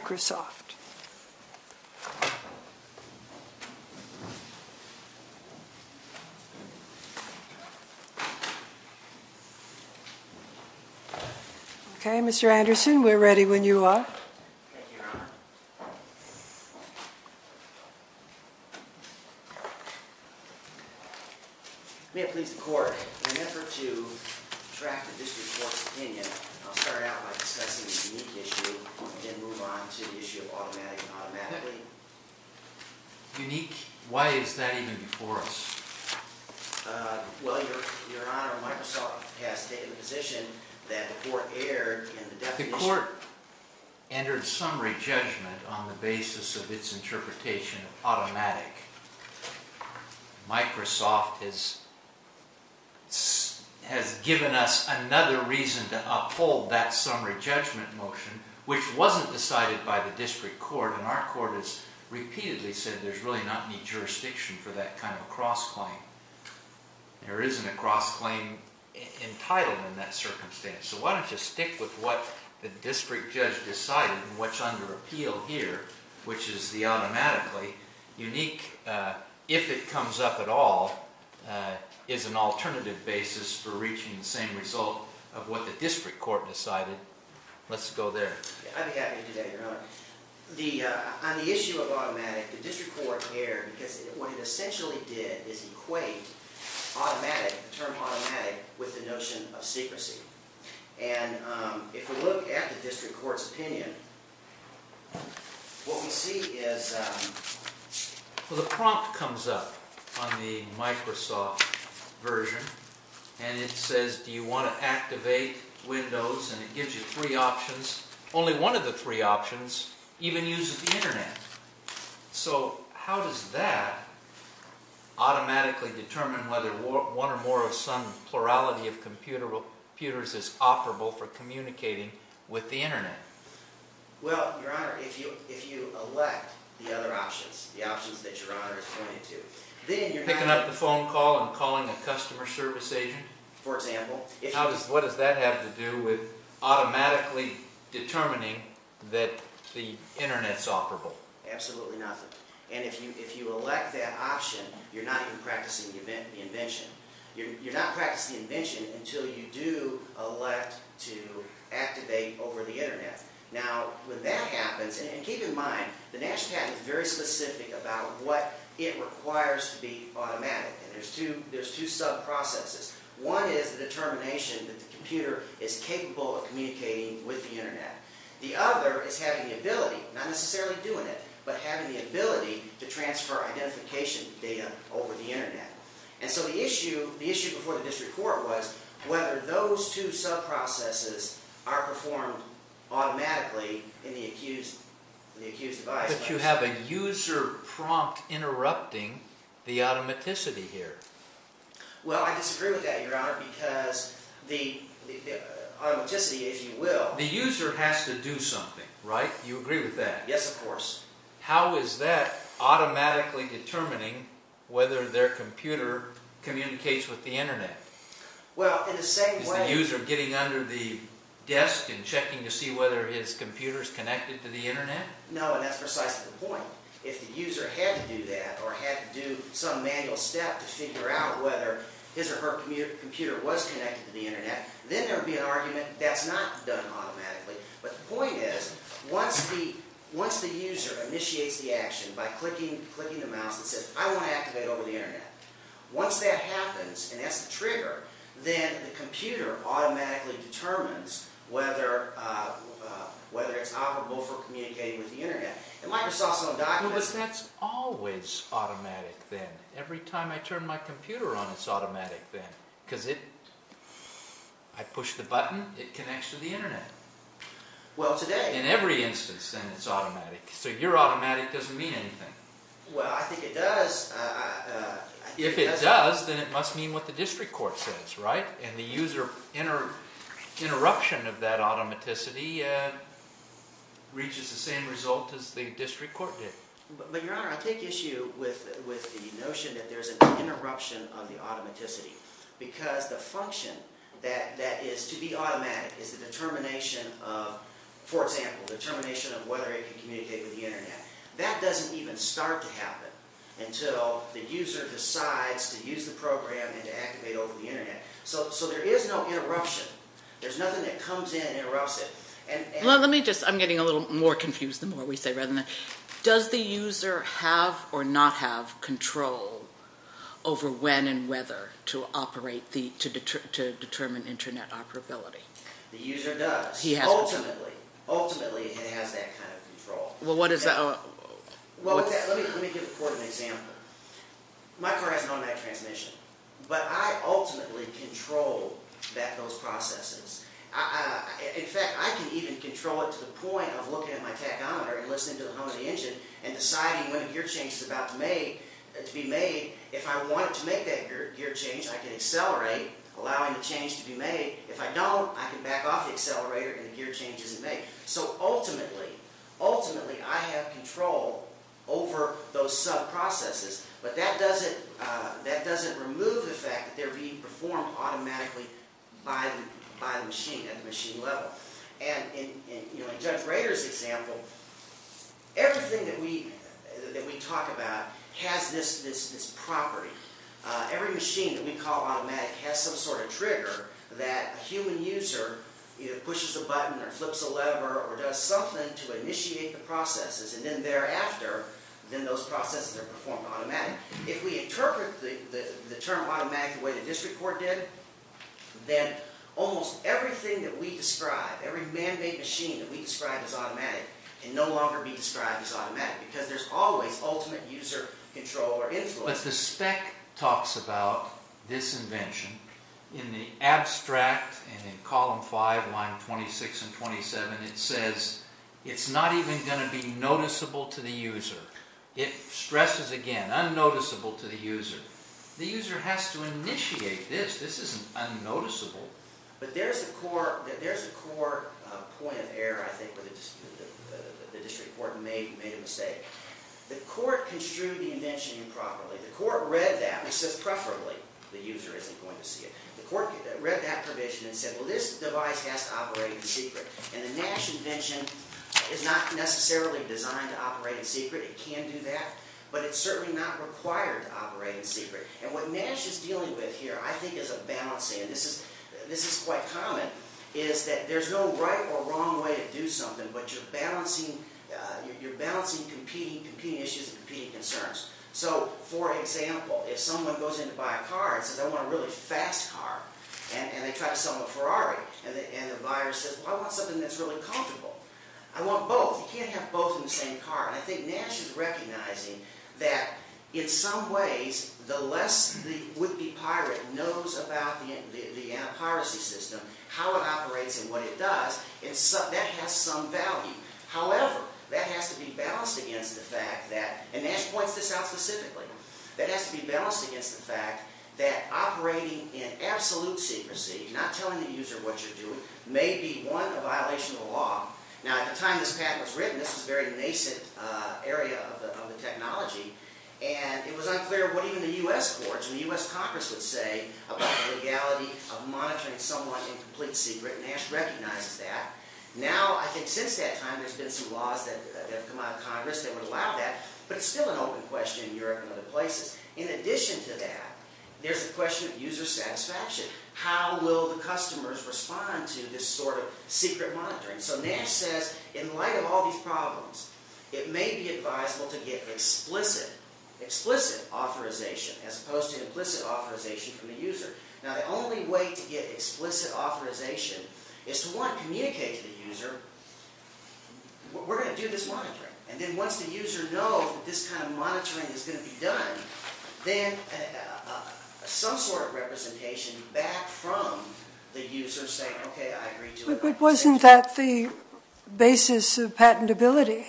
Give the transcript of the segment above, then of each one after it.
Okay, Mr. Anderson, we're ready when you are. Thank you, Your Honor. The court entered summary judgment on the basis of its interpretation of automatic. Microsoft has given us another reason to uphold that summary judgment motion, which wasn't decided by the district court, and our court has repeatedly said there's really not any jurisdiction for that kind of a cross-claim. There isn't a cross-claim entitled in that circumstance, so why don't you stick with what the district judge decided and what's under appeal here, which is the automatically unique, if it comes up at all, is an alternative basis for reaching the same result of what the district court decided. Let's go there. I'd be happy to do that, Your Honor. On the issue of automatic, the district court erred, because what it essentially did is equate automatic, the term automatic, with the notion of secrecy. If we look at the district court's opinion, what we see is, the prompt comes up on the Microsoft version, and it says, do you want to activate Windows, and it gives you three options. Only one of the three options even uses the Internet. So how does that automatically determine whether one or more of some plurality of computers is operable for communicating with the Internet? Well, Your Honor, if you elect the other options, the options that Your Honor is pointing to, then you're not... Picking up the phone call and calling a customer service agent? For example. What does that have to do with automatically determining that the Internet's operable? Absolutely nothing. And if you elect that option, you're not even practicing the invention. You're not practicing the invention until you do elect to activate over the Internet. Now, when that happens, and keep in mind, the national patent is very specific about what it requires to be automatic, and there's two sub-processes. One is the determination that the computer is capable of communicating with the Internet. The other is having the ability, not necessarily doing it, but having the ability to transfer identification data over the Internet. And so the issue before the district court was whether those two sub-processes are performed automatically in the accused device. But you have a user prompt interrupting the automaticity here. Well, I disagree with that, Your Honor, because the automaticity, if you will... The user has to do something, right? You agree with that? Yes, of course. How is that automatically determining whether their computer communicates with the Internet? Well, in the same way... Is the user getting under the desk and checking to see whether his computer is connected to the Internet? No, and that's precisely the point. If the user had to do that or had to do some manual step to figure out whether his or her computer was connected to the Internet, then there would be an argument that's not done automatically. But the point is, once the user initiates the action by clicking the mouse and says, I want to activate over the Internet, once that happens and that's the trigger, then the computer automatically determines whether it's operable for communicating with the Internet. In Microsoft's own documents... But that's always automatic then. Every time I turn my computer on, it's automatic then. Because I push the button, it connects to the Internet. Well, today... In every instance, then it's automatic. So your automatic doesn't mean anything. Well, I think it does. If it does, then it must mean what the district court says, right? And the user interruption of that automaticity reaches the same result as the district court did. But, Your Honor, I take issue with the notion that there's an interruption of the automaticity. Because the function that is to be automatic is the determination of, for example, the determination of whether it can communicate with the Internet. That doesn't even start to happen until the user decides to use the program and to activate over the Internet. So there is no interruption. There's nothing that comes in and interrupts it. Well, let me just... I'm getting a little more confused the more we say rather than... Does the user have or not have control over when and whether to operate the... to determine Internet operability? The user does. Ultimately. Ultimately, it has that kind of control. Well, what is that? Well, let me give the court an example. My car has an automatic transmission. But I ultimately control those processes. In fact, I can even control it to the point of looking at my tachometer and listening to the hum of the engine and deciding when a gear change is about to be made. If I want it to make that gear change, I can accelerate, allowing the change to be made. If I don't, I can back off the accelerator and the gear change isn't made. So ultimately, ultimately, I have control over those sub-processes. But that doesn't remove the fact that they're being performed automatically by the machine at the machine level. And in Judge Rader's example, everything that we talk about has this property. Every machine that we call automatic has some sort of trigger that a human user either pushes a button or flips a lever or does something to initiate the processes. And then thereafter, then those processes are performed automatically. If we interpret the term automatic the way the district court did, then almost everything that we describe, every man-made machine that we describe as automatic can no longer be described as automatic because there's always ultimate user control or influence. But the spec talks about this invention. In the abstract, in column 5, line 26 and 27, it says it's not even going to be noticeable to the user. It stresses again, unnoticeable to the user. The user has to initiate this. This isn't unnoticeable. But there's a core point of error, I think, where the district court made a mistake. The court construed the invention improperly. The court read that and says preferably the user isn't going to see it. The court read that provision and said, well, this device has to operate in secret. And the Nash invention is not necessarily designed to operate in secret. It can do that, but it's certainly not required to operate in secret. And what Nash is dealing with here, I think, is a balancing. And this is quite common, is that there's no right or wrong way to do something, but you're balancing competing issues and competing concerns. So, for example, if someone goes in to buy a car and says, I want a really fast car, and they try to sell them a Ferrari, and the buyer says, well, I want something that's really comfortable. I want both. You can't have both in the same car. And I think Nash is recognizing that in some ways, the less the would-be pirate knows about the piracy system, how it operates and what it does, that has some value. However, that has to be balanced against the fact that, and Nash points this out specifically, that has to be balanced against the fact that operating in absolute secrecy, not telling the user what you're doing, may be, one, a violation of the law. Now, at the time this patent was written, this was a very nascent area of the technology, and it was unclear what even the U.S. courts and the U.S. Congress would say about the legality of monitoring someone in complete secret, and Nash recognizes that. Now, I think since that time, there's been some laws that have come out of Congress that would allow that, but it's still an open question in Europe and other places. In addition to that, there's the question of user satisfaction. How will the customers respond to this sort of secret monitoring? So Nash says, in light of all these problems, it may be advisable to get explicit authorization, as opposed to implicit authorization from the user. Now, the only way to get explicit authorization is to, one, communicate to the user, we're going to do this monitoring, and then once the user knows that this kind of monitoring is going to be done, then some sort of representation back from the user saying, okay, I agree to it. But wasn't that the basis of patentability,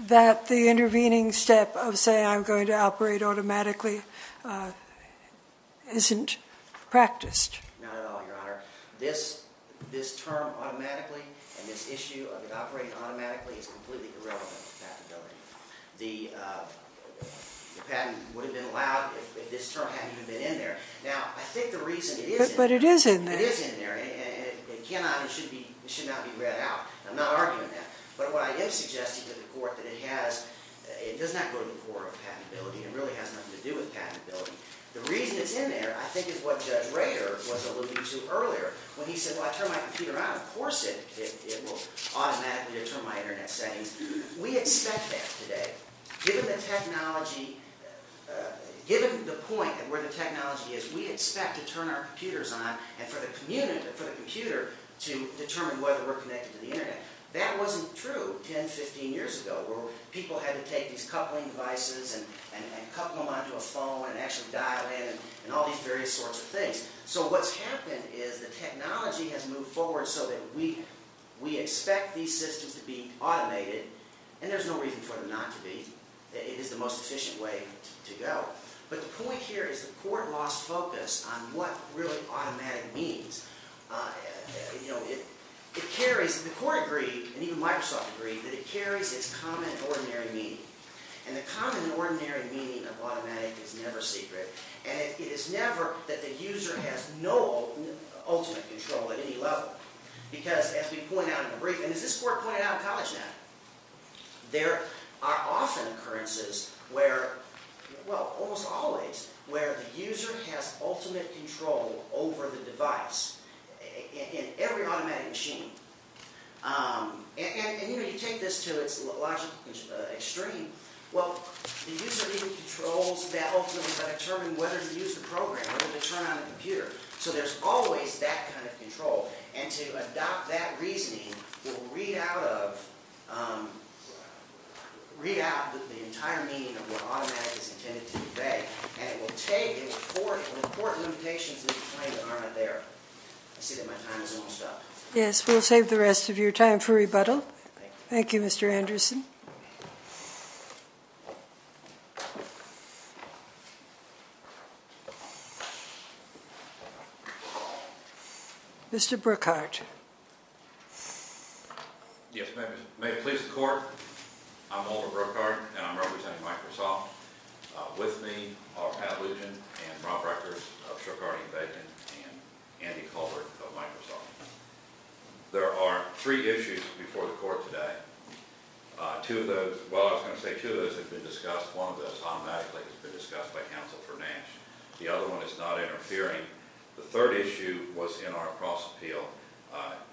that the intervening step of saying I'm going to operate automatically isn't practiced? Not at all, Your Honor. This term automatically and this issue of it operating automatically is completely irrelevant to patentability. The patent would have been allowed if this term hadn't even been in there. Now, I think the reason it is in there. But it is in there. It is in there, and it cannot and should not be read out. I'm not arguing that. But what I am suggesting to the Court that it has, it does not go to the core of patentability. It really has nothing to do with patentability. The reason it's in there, I think, is what Judge Rader was alluding to earlier, when he said, well, I turn my computer on, of course it will automatically determine my Internet settings. We expect that today. Given the technology, given the point where the technology is, we expect to turn our computers on and for the computer to determine whether we're connected to the Internet. That wasn't true 10, 15 years ago where people had to take these coupling devices and couple them onto a phone and actually dial in and all these various sorts of things. So what's happened is the technology has moved forward so that we expect these systems to be automated, and there's no reason for them not to be. It is the most efficient way to go. But the point here is the Court lost focus on what really automatic means. You know, it carries, and the Court agreed, and even Microsoft agreed, that it carries its common ordinary meaning. And the common ordinary meaning of automatic is never secret. And it is never that the user has no ultimate control at any level. Because, as we point out in the brief, and as this Court pointed out in CollegeNet, there are often occurrences where, well, almost always, where the user has ultimate control over the device in every automatic machine. And, you know, you take this to its logical extreme. Well, the user even controls that ultimate by determining whether to use the program, whether to turn on the computer. So there's always that kind of control. And to adopt that reasoning, we'll read out the entire meaning of what automatic is intended to convey, and it will take and report limitations that are there. I see that my time has almost up. Yes, we'll save the rest of your time for rebuttal. Thank you, Mr. Anderson. Mr. Brookhart. Yes, ma'am. May it please the Court, I'm Walter Brookhart, and I'm representing Microsoft. With me are Pat Lugin and Rob Rutgers of Shokardi and Bacon and Andy Colbert of Microsoft. There are three issues before the Court today. Two of those, well, I was going to say two of those have been discussed. One of those automatically has been discussed by counsel for Nash. The other one is not interfering. The third issue was in our cross-appeal,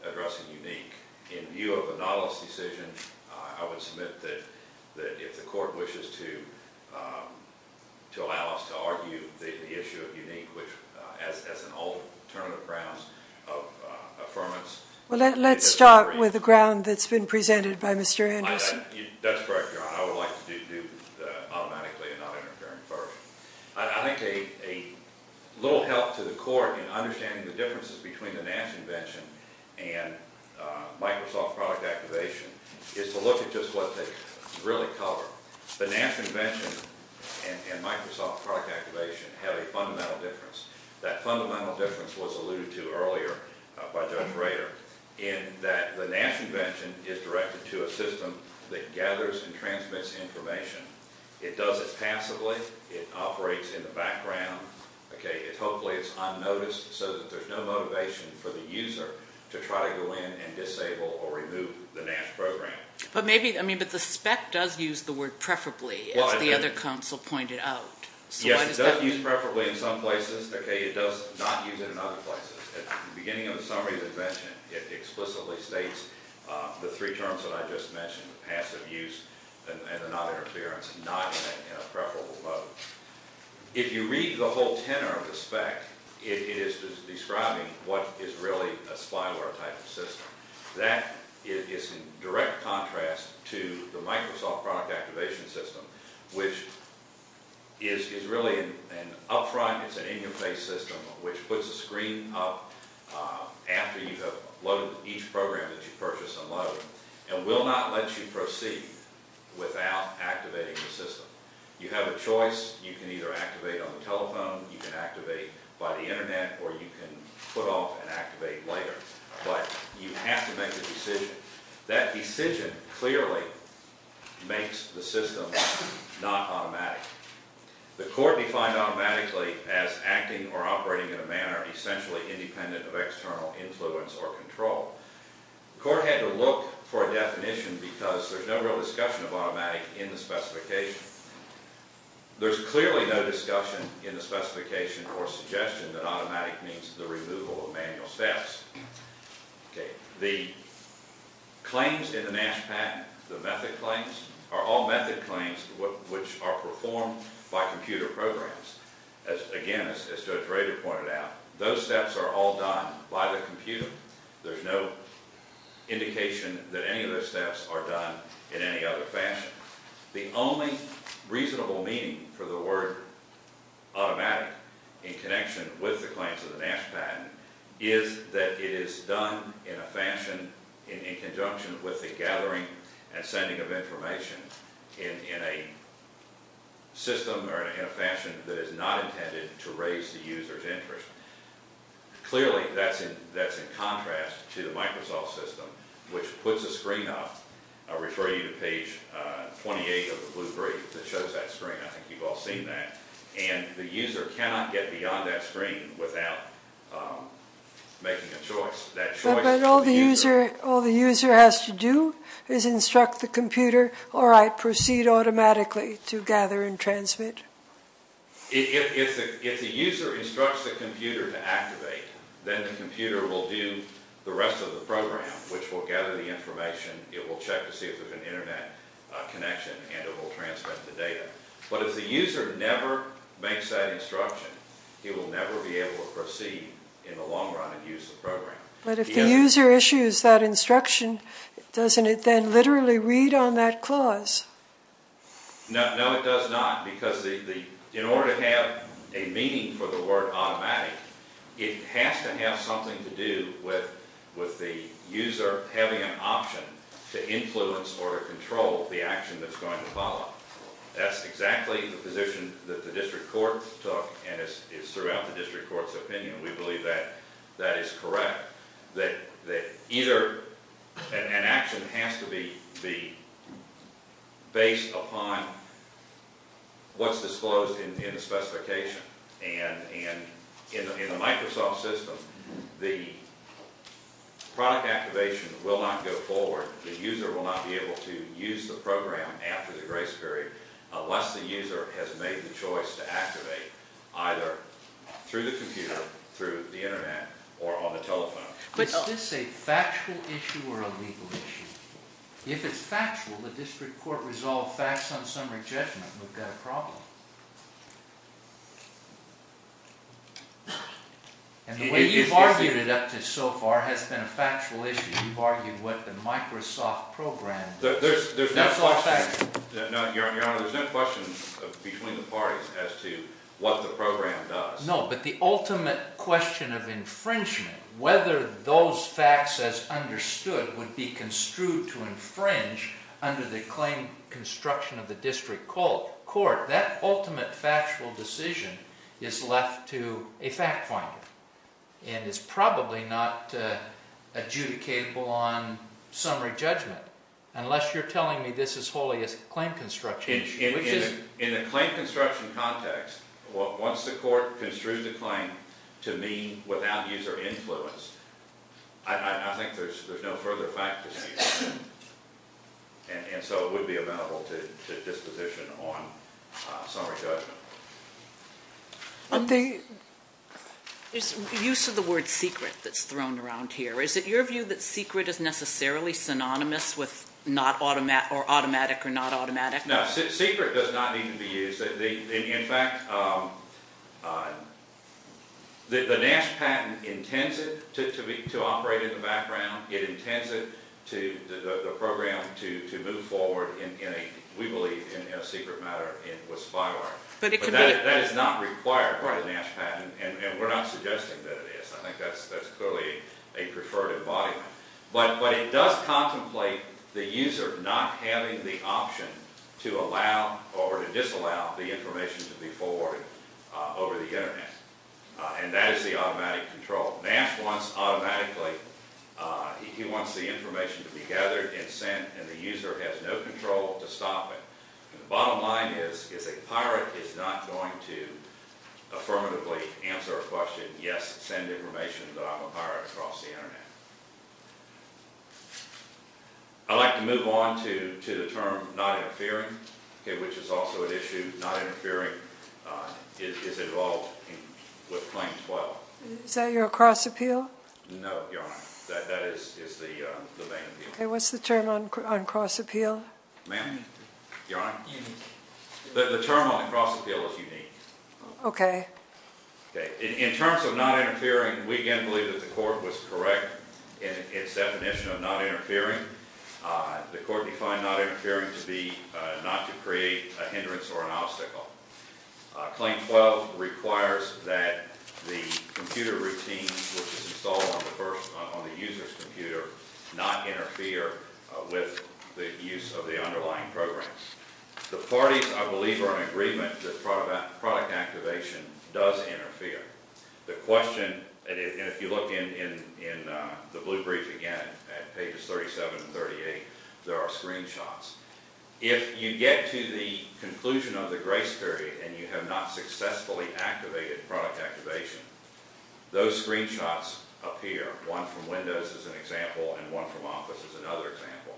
addressing Unique. In view of the Nautilus decision, I would submit that if the Court wishes to allow us to argue the issue of Unique, which as an alternative grounds of affirmance. Well, let's start with the ground that's been presented by Mr. Anderson. That's correct, Your Honor. I would like to do that automatically and not interfering first. I think a little help to the Court in understanding the differences between the Nash invention and Microsoft product activation is to look at just what they really cover. The Nash invention and Microsoft product activation have a fundamental difference. That fundamental difference was alluded to earlier by Judge Rader in that the Nash invention is directed to a system that gathers and transmits information. It does it passively. It operates in the background. Hopefully, it's unnoticed so that there's no motivation for the user to try to go in and disable or remove the Nash program. But the spec does use the word preferably, as the other counsel pointed out. Yes, it does use preferably in some places. It does not use it in other places. At the beginning of the summary of the invention, it explicitly states the three terms that I just mentioned, passive use and not interference, not in a preferable mode. If you read the whole tenor of the spec, it is describing what is really a spyware type of system. That is in direct contrast to the Microsoft product activation system, which is really an up-front, it's an interface system, which puts the screen up after you have loaded each program that you purchase and load and will not let you proceed without activating the system. You have a choice. You can either activate on the telephone, you can activate by the internet, or you can put off and activate later. But you have to make the decision. That decision clearly makes the system not automatic. The court defined automatically as acting or operating in a manner essentially independent of external influence or control. The court had to look for a definition because there's no real discussion of automatic in the specification. There's clearly no discussion in the specification or suggestion that automatic means the removal of manual steps. The claims in the Nash Patent, the method claims, are all method claims which are performed by computer programs. Again, as Judge Rader pointed out, those steps are all done by the computer. There's no indication that any of those steps are done in any other fashion. The only reasonable meaning for the word automatic in connection with the claims of the Nash Patent is that it is done in a fashion in conjunction with the gathering and sending of information in a system or in a fashion that is not intended to raise the user's interest. Clearly, that's in contrast to the Microsoft system, which puts a screen up. I refer you to page 28 of the blue brief that shows that screen. I think you've all seen that. The user cannot get beyond that screen without making a choice. But all the user has to do is instruct the computer, all right, proceed automatically to gather and transmit. If the user instructs the computer to activate, then the computer will do the rest of the program, which will gather the information. It will check to see if there's an Internet connection, and it will transmit the data. But if the user never makes that instruction, he will never be able to proceed in the long run and use the program. But if the user issues that instruction, doesn't it then literally read on that clause? No, it does not. Because in order to have a meaning for the word automatic, it has to have something to do with the user having an option to influence or to control the action that's going to follow. That's exactly the position that the district court took, and it's throughout the district court's opinion. We believe that that is correct, that either an action has to be based upon what's disclosed in the specification. And in the Microsoft system, the product activation will not go forward. The user will not be able to use the program after the grace period unless the user has made the choice to activate either through the computer, or through the Internet, or on the telephone. Is this a factual issue or a legal issue? If it's factual, the district court resolved facts on summary judgment, and we've got a problem. And the way you've argued it up to so far has been a factual issue. You've argued what the Microsoft program does. There's no question between the parties as to what the program does. No, but the ultimate question of infringement, whether those facts as understood would be construed to infringe under the claim construction of the district court, that ultimate factual decision is left to a fact finder. And it's probably not adjudicatable on summary judgment, unless you're telling me this is wholly a claim construction issue. In a claim construction context, once the court construed the claim to mean without user influence, I think there's no further fact to see. And so it would be amenable to disposition on summary judgment. There's use of the word secret that's thrown around here. Is it your view that secret is necessarily synonymous with automatic or not automatic? No, secret does not need to be used. In fact, the Nash patent intends it to operate in the background. It intends it to the program to move forward in a, we believe, in a secret matter with spyware. But that is not required by the Nash patent, and we're not suggesting that it is. I think that's clearly a preferred embodiment. But it does contemplate the user not having the option to allow or to disallow the information to be forwarded over the Internet. And that is the automatic control. Nash wants automatically, he wants the information to be gathered and sent, and the user has no control to stop it. The bottom line is a pirate is not going to affirmatively answer a question, yes, send information that I'm a pirate across the Internet. I'd like to move on to the term not interfering, which is also an issue. Not interfering is involved with Claim 12. Is that your cross appeal? No, Your Honor. That is the main appeal. Okay. What's the term on cross appeal? Ma'am? Your Honor? The term on the cross appeal is unique. Okay. Okay. In terms of not interfering, we again believe that the court was correct in its definition of not interfering. The court defined not interfering to be not to create a hindrance or an obstacle. Claim 12 requires that the computer routine, which is installed on the user's computer, not interfere with the use of the underlying programs. The parties, I believe, are in agreement that product activation does interfere. The question, and if you look in the blue brief again at pages 37 and 38, there are screenshots. If you get to the conclusion of the grace period and you have not successfully activated product activation, those screenshots appear. One from Windows is an example, and one from Office is another example.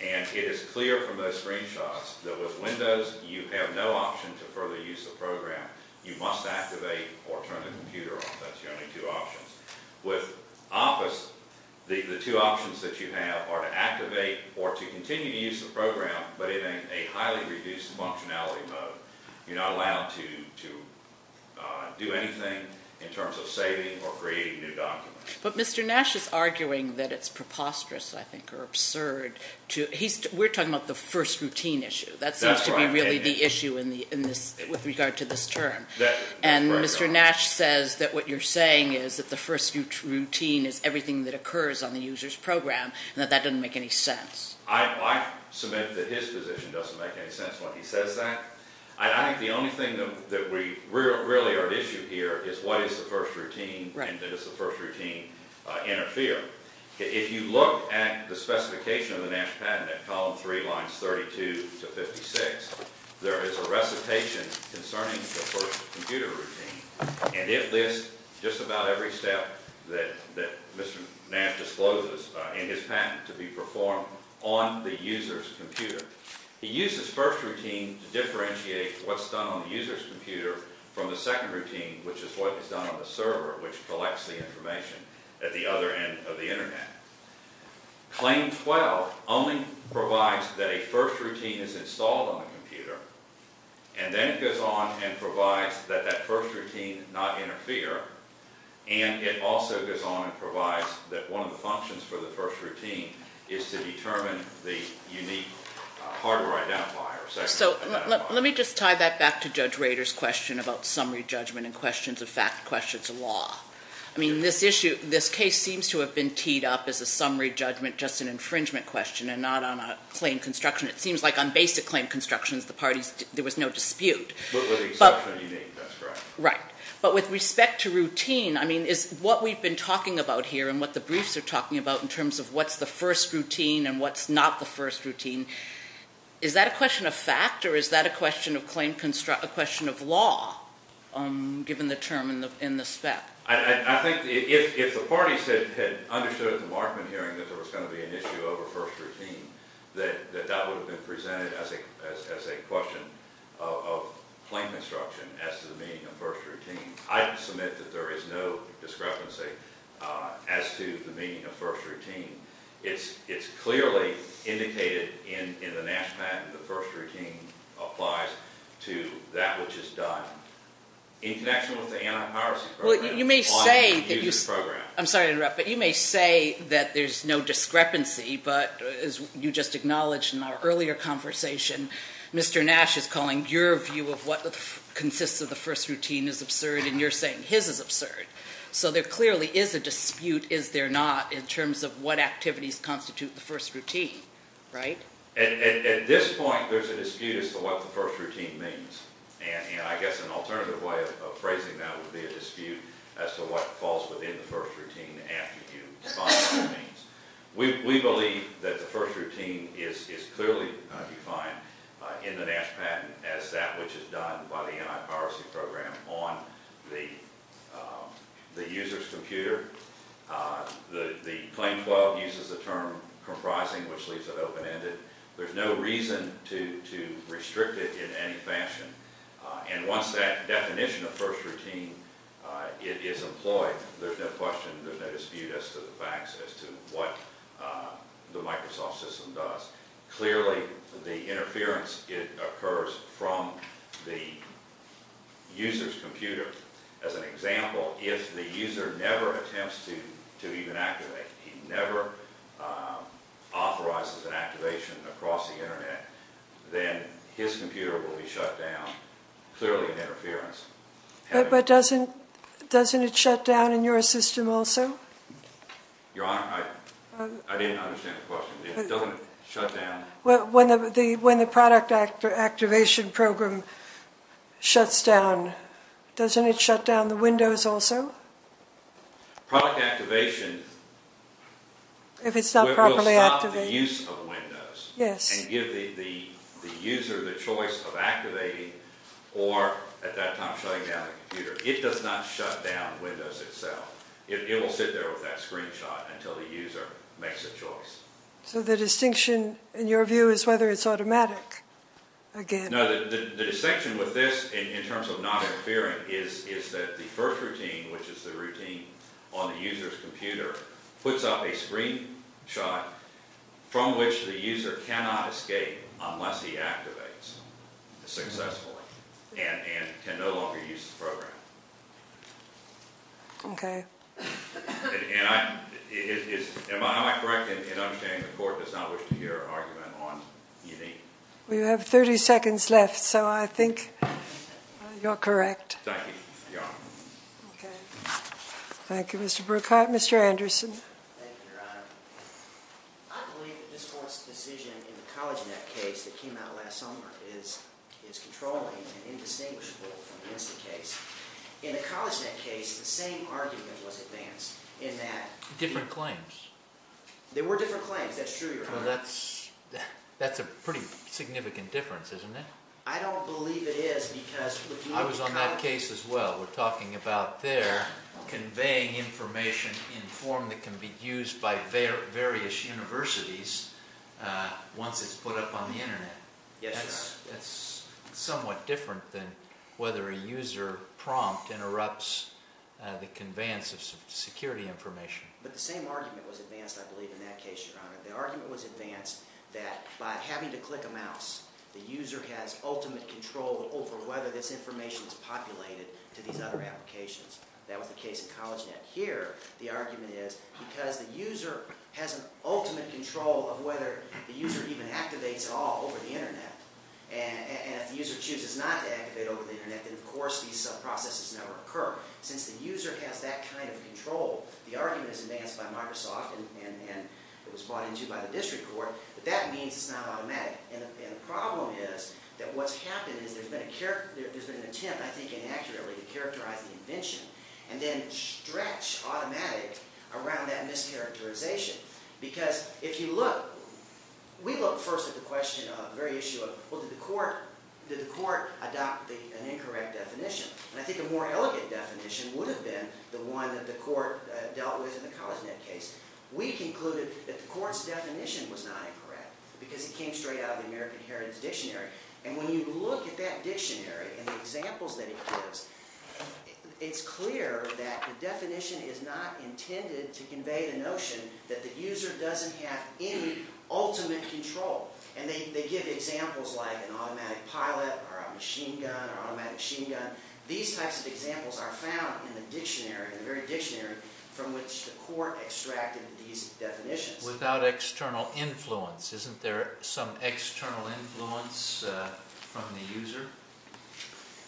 It is clear from those screenshots that with Windows, you have no option to further use the program. You must activate or turn the computer off. That's your only two options. With Office, the two options that you have are to activate or to continue to use the program, but in a highly reduced functionality mode. You're not allowed to do anything in terms of saving or creating new documents. But Mr. Nash is arguing that it's preposterous, I think, or absurd. We're talking about the first routine issue. That seems to be really the issue with regard to this term. And Mr. Nash says that what you're saying is that the first routine is everything that occurs on the user's program, and that that doesn't make any sense. I submit that his position doesn't make any sense when he says that. I think the only thing that we really are at issue here is what is the first routine and does the first routine interfere. If you look at the specification of the Nash patent at column 3, lines 32 to 56, there is a recitation concerning the first computer routine, and it lists just about every step that Mr. Nash discloses in his patent to be performed on the user's computer. He uses first routine to differentiate what's done on the user's computer from the second routine, which is what is done on the server, which collects the information at the other end of the Internet. Claim 12 only provides that a first routine is installed on the computer, and then it goes on and provides that that first routine not interfere, and it also goes on and provides that one of the functions for the first routine is to determine the unique hardware identifier. Let me just tie that back to Judge Rader's question about summary judgment and questions of fact, questions of law. This case seems to have been teed up as a summary judgment, just an infringement question and not on a claim construction. It seems like on basic claim constructions, there was no dispute. But with the exception of unique, that's correct. Right. But with respect to routine, what we've been talking about here and what the briefs are talking about in terms of what's the first routine and what's not the first routine, is that a question of fact or is that a question of law, given the term in the spec? I think if the parties had understood at the Markman hearing that there was going to be an issue over first routine, that that would have been presented as a question of claim construction as to the meaning of first routine. I submit that there is no discrepancy as to the meaning of first routine. It's clearly indicated in the NASH plan that the first routine applies to that which is done in connection with the anti-piracy program. You may say that there's no discrepancy, but as you just acknowledged in our earlier conversation, Mr. Nash is calling your view of what consists of the first routine is absurd and you're saying his is absurd. So there clearly is a dispute, is there not, in terms of what activities constitute the first routine, right? At this point, there's a dispute as to what the first routine means and I guess an alternative way of phrasing that would be a dispute as to what falls within the first routine after you define what it means. We believe that the first routine is clearly defined in the NASH patent as that which is done by the anti-piracy program on the user's computer. The claim 12 uses the term comprising which leaves it open-ended. There's no reason to restrict it in any fashion. And once that definition of first routine is employed, there's no question, there's no dispute as to the facts as to what the Microsoft system does. Clearly, the interference occurs from the user's computer. As an example, if the user never attempts to even activate, he never authorizes an activation across the Internet, then his computer will be shut down, clearly an interference. But doesn't it shut down in your system also? Your Honor, I didn't understand the question. When the product activation program shuts down, doesn't it shut down the Windows also? Product activation will stop the use of Windows and give the user the choice of activating or at that time shutting down the computer. It does not shut down Windows itself. It will sit there with that screenshot until the user makes a choice. So the distinction, in your view, is whether it's automatic again. No, the distinction with this in terms of not interfering is that the first routine, which is the routine on the user's computer, puts up a screenshot from which the user cannot escape Okay. Am I correct in understanding the Court does not wish to hear an argument on E.D.? We have 30 seconds left, so I think you're correct. Thank you, Your Honor. Okay. Thank you, Mr. Bruckheit. Mr. Anderson. Thank you, Your Honor. I believe that this Court's decision in the CollegeNet case that came out last summer is controlling and indistinguishable from the instant case. In the CollegeNet case, the same argument was advanced in that... Different claims. There were different claims. That's true, Your Honor. Well, that's a pretty significant difference, isn't it? I don't believe it is because... I was on that case as well. We're talking about their conveying information in form that can be used by various universities once it's put up on the Internet. Yes, Your Honor. That's somewhat different than whether a user prompt interrupts the conveyance of security information. But the same argument was advanced, I believe, in that case, Your Honor. The argument was advanced that by having to click a mouse, the user has ultimate control over whether this information is populated to these other applications. That was the case in CollegeNet. Here, the argument is because the user has an ultimate control of whether the user even activates all over the Internet. And if the user chooses not to activate over the Internet, then, of course, these sub-processes never occur. Since the user has that kind of control, the argument is advanced by Microsoft and it was brought into by the District Court, but that means it's not automatic. And the problem is that what's happened is there's been an attempt, I think inaccurately, to characterize the invention and then stretch automatic around that mischaracterization. Because if you look, we look first at the question of, the very issue of, well, did the court adopt an incorrect definition? And I think a more elegant definition would have been the one that the court dealt with in the CollegeNet case. We concluded that the court's definition was not incorrect because it came straight out of the American Heritage Dictionary. And when you look at that dictionary and the examples that it gives, you can see from the definition that the user doesn't have any ultimate control. And they give examples like an automatic pilot or a machine gun or automatic machine gun. These types of examples are found in the dictionary, in the very dictionary from which the court extracted these definitions. Without external influence. Isn't there some external influence from the user?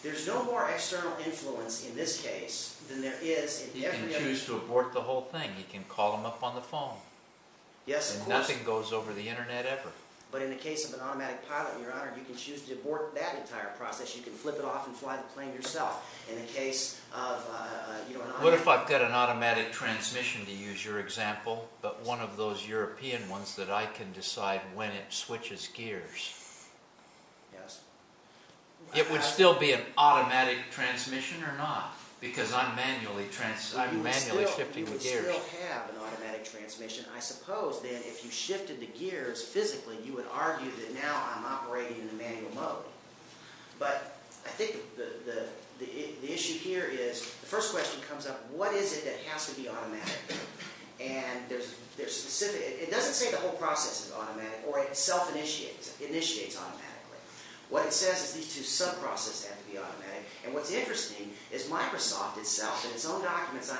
There's no more external influence in this case than there is in every other case. You can choose to abort the whole thing. You can call them up on the phone. Yes, of course. And nothing goes over the internet ever. But in the case of an automatic pilot, Your Honor, you can choose to abort that entire process. You can flip it off and fly the plane yourself. In the case of... What if I've got an automatic transmission, to use your example, but one of those European ones that I can decide when it switches gears? Yes. It would still be an automatic transmission or not? Because I'm manually shifting the gears. You would still have an automatic transmission. I suppose that if you shifted the gears physically, you would argue that now I'm operating in a manual mode. But I think the issue here is, the first question comes up, what is it that has to be automatic? And there's specific... It doesn't say the whole process is automatic or it self-initiates. It initiates automatically. What it says is these two sub-processes have to be automatic. And what's interesting is Microsoft itself, in its own documents on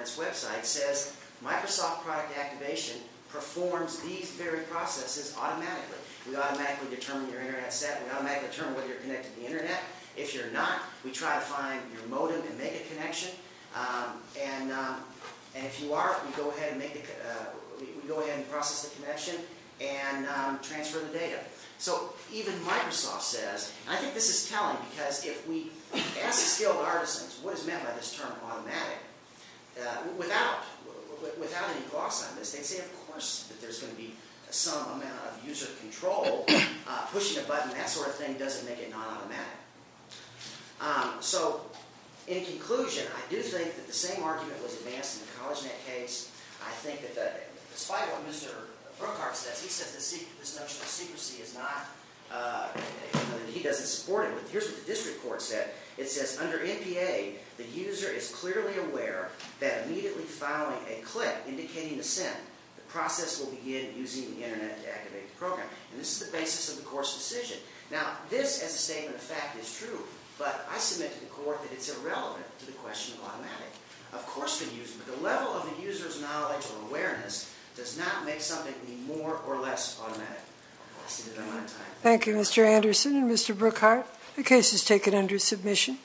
its website, says Microsoft product activation performs these very processes automatically. We automatically determine your internet set. We automatically determine whether you're connected to the internet. If you're not, we try to find your modem and make a connection. And if you are, we go ahead and process the connection and transfer the data. So even Microsoft says... I think this is telling because if we ask skilled artisans what is meant by this term automatic, without any gloss on this, they'd say, of course, that there's going to be some amount of user control. Pushing a button, that sort of thing, doesn't make it non-automatic. So in conclusion, I do think that the same argument was advanced in the CollegeNet case. I think that despite what Mr. Brookhart says, he says this notion of secrecy is not... he doesn't support it. Here's what the district court said. It says, under NPA, the user is clearly aware that immediately following a click indicating the send, the process will begin using the internet to activate the program. And this is the basis of the court's decision. Now this, as a statement of fact, is true. But I submit to the court that it's irrelevant to the question of automatic. The level of the user's knowledge or awareness does not make something be more or less automatic. Thank you, Mr. Anderson and Mr. Brookhart. The case is taken under submission.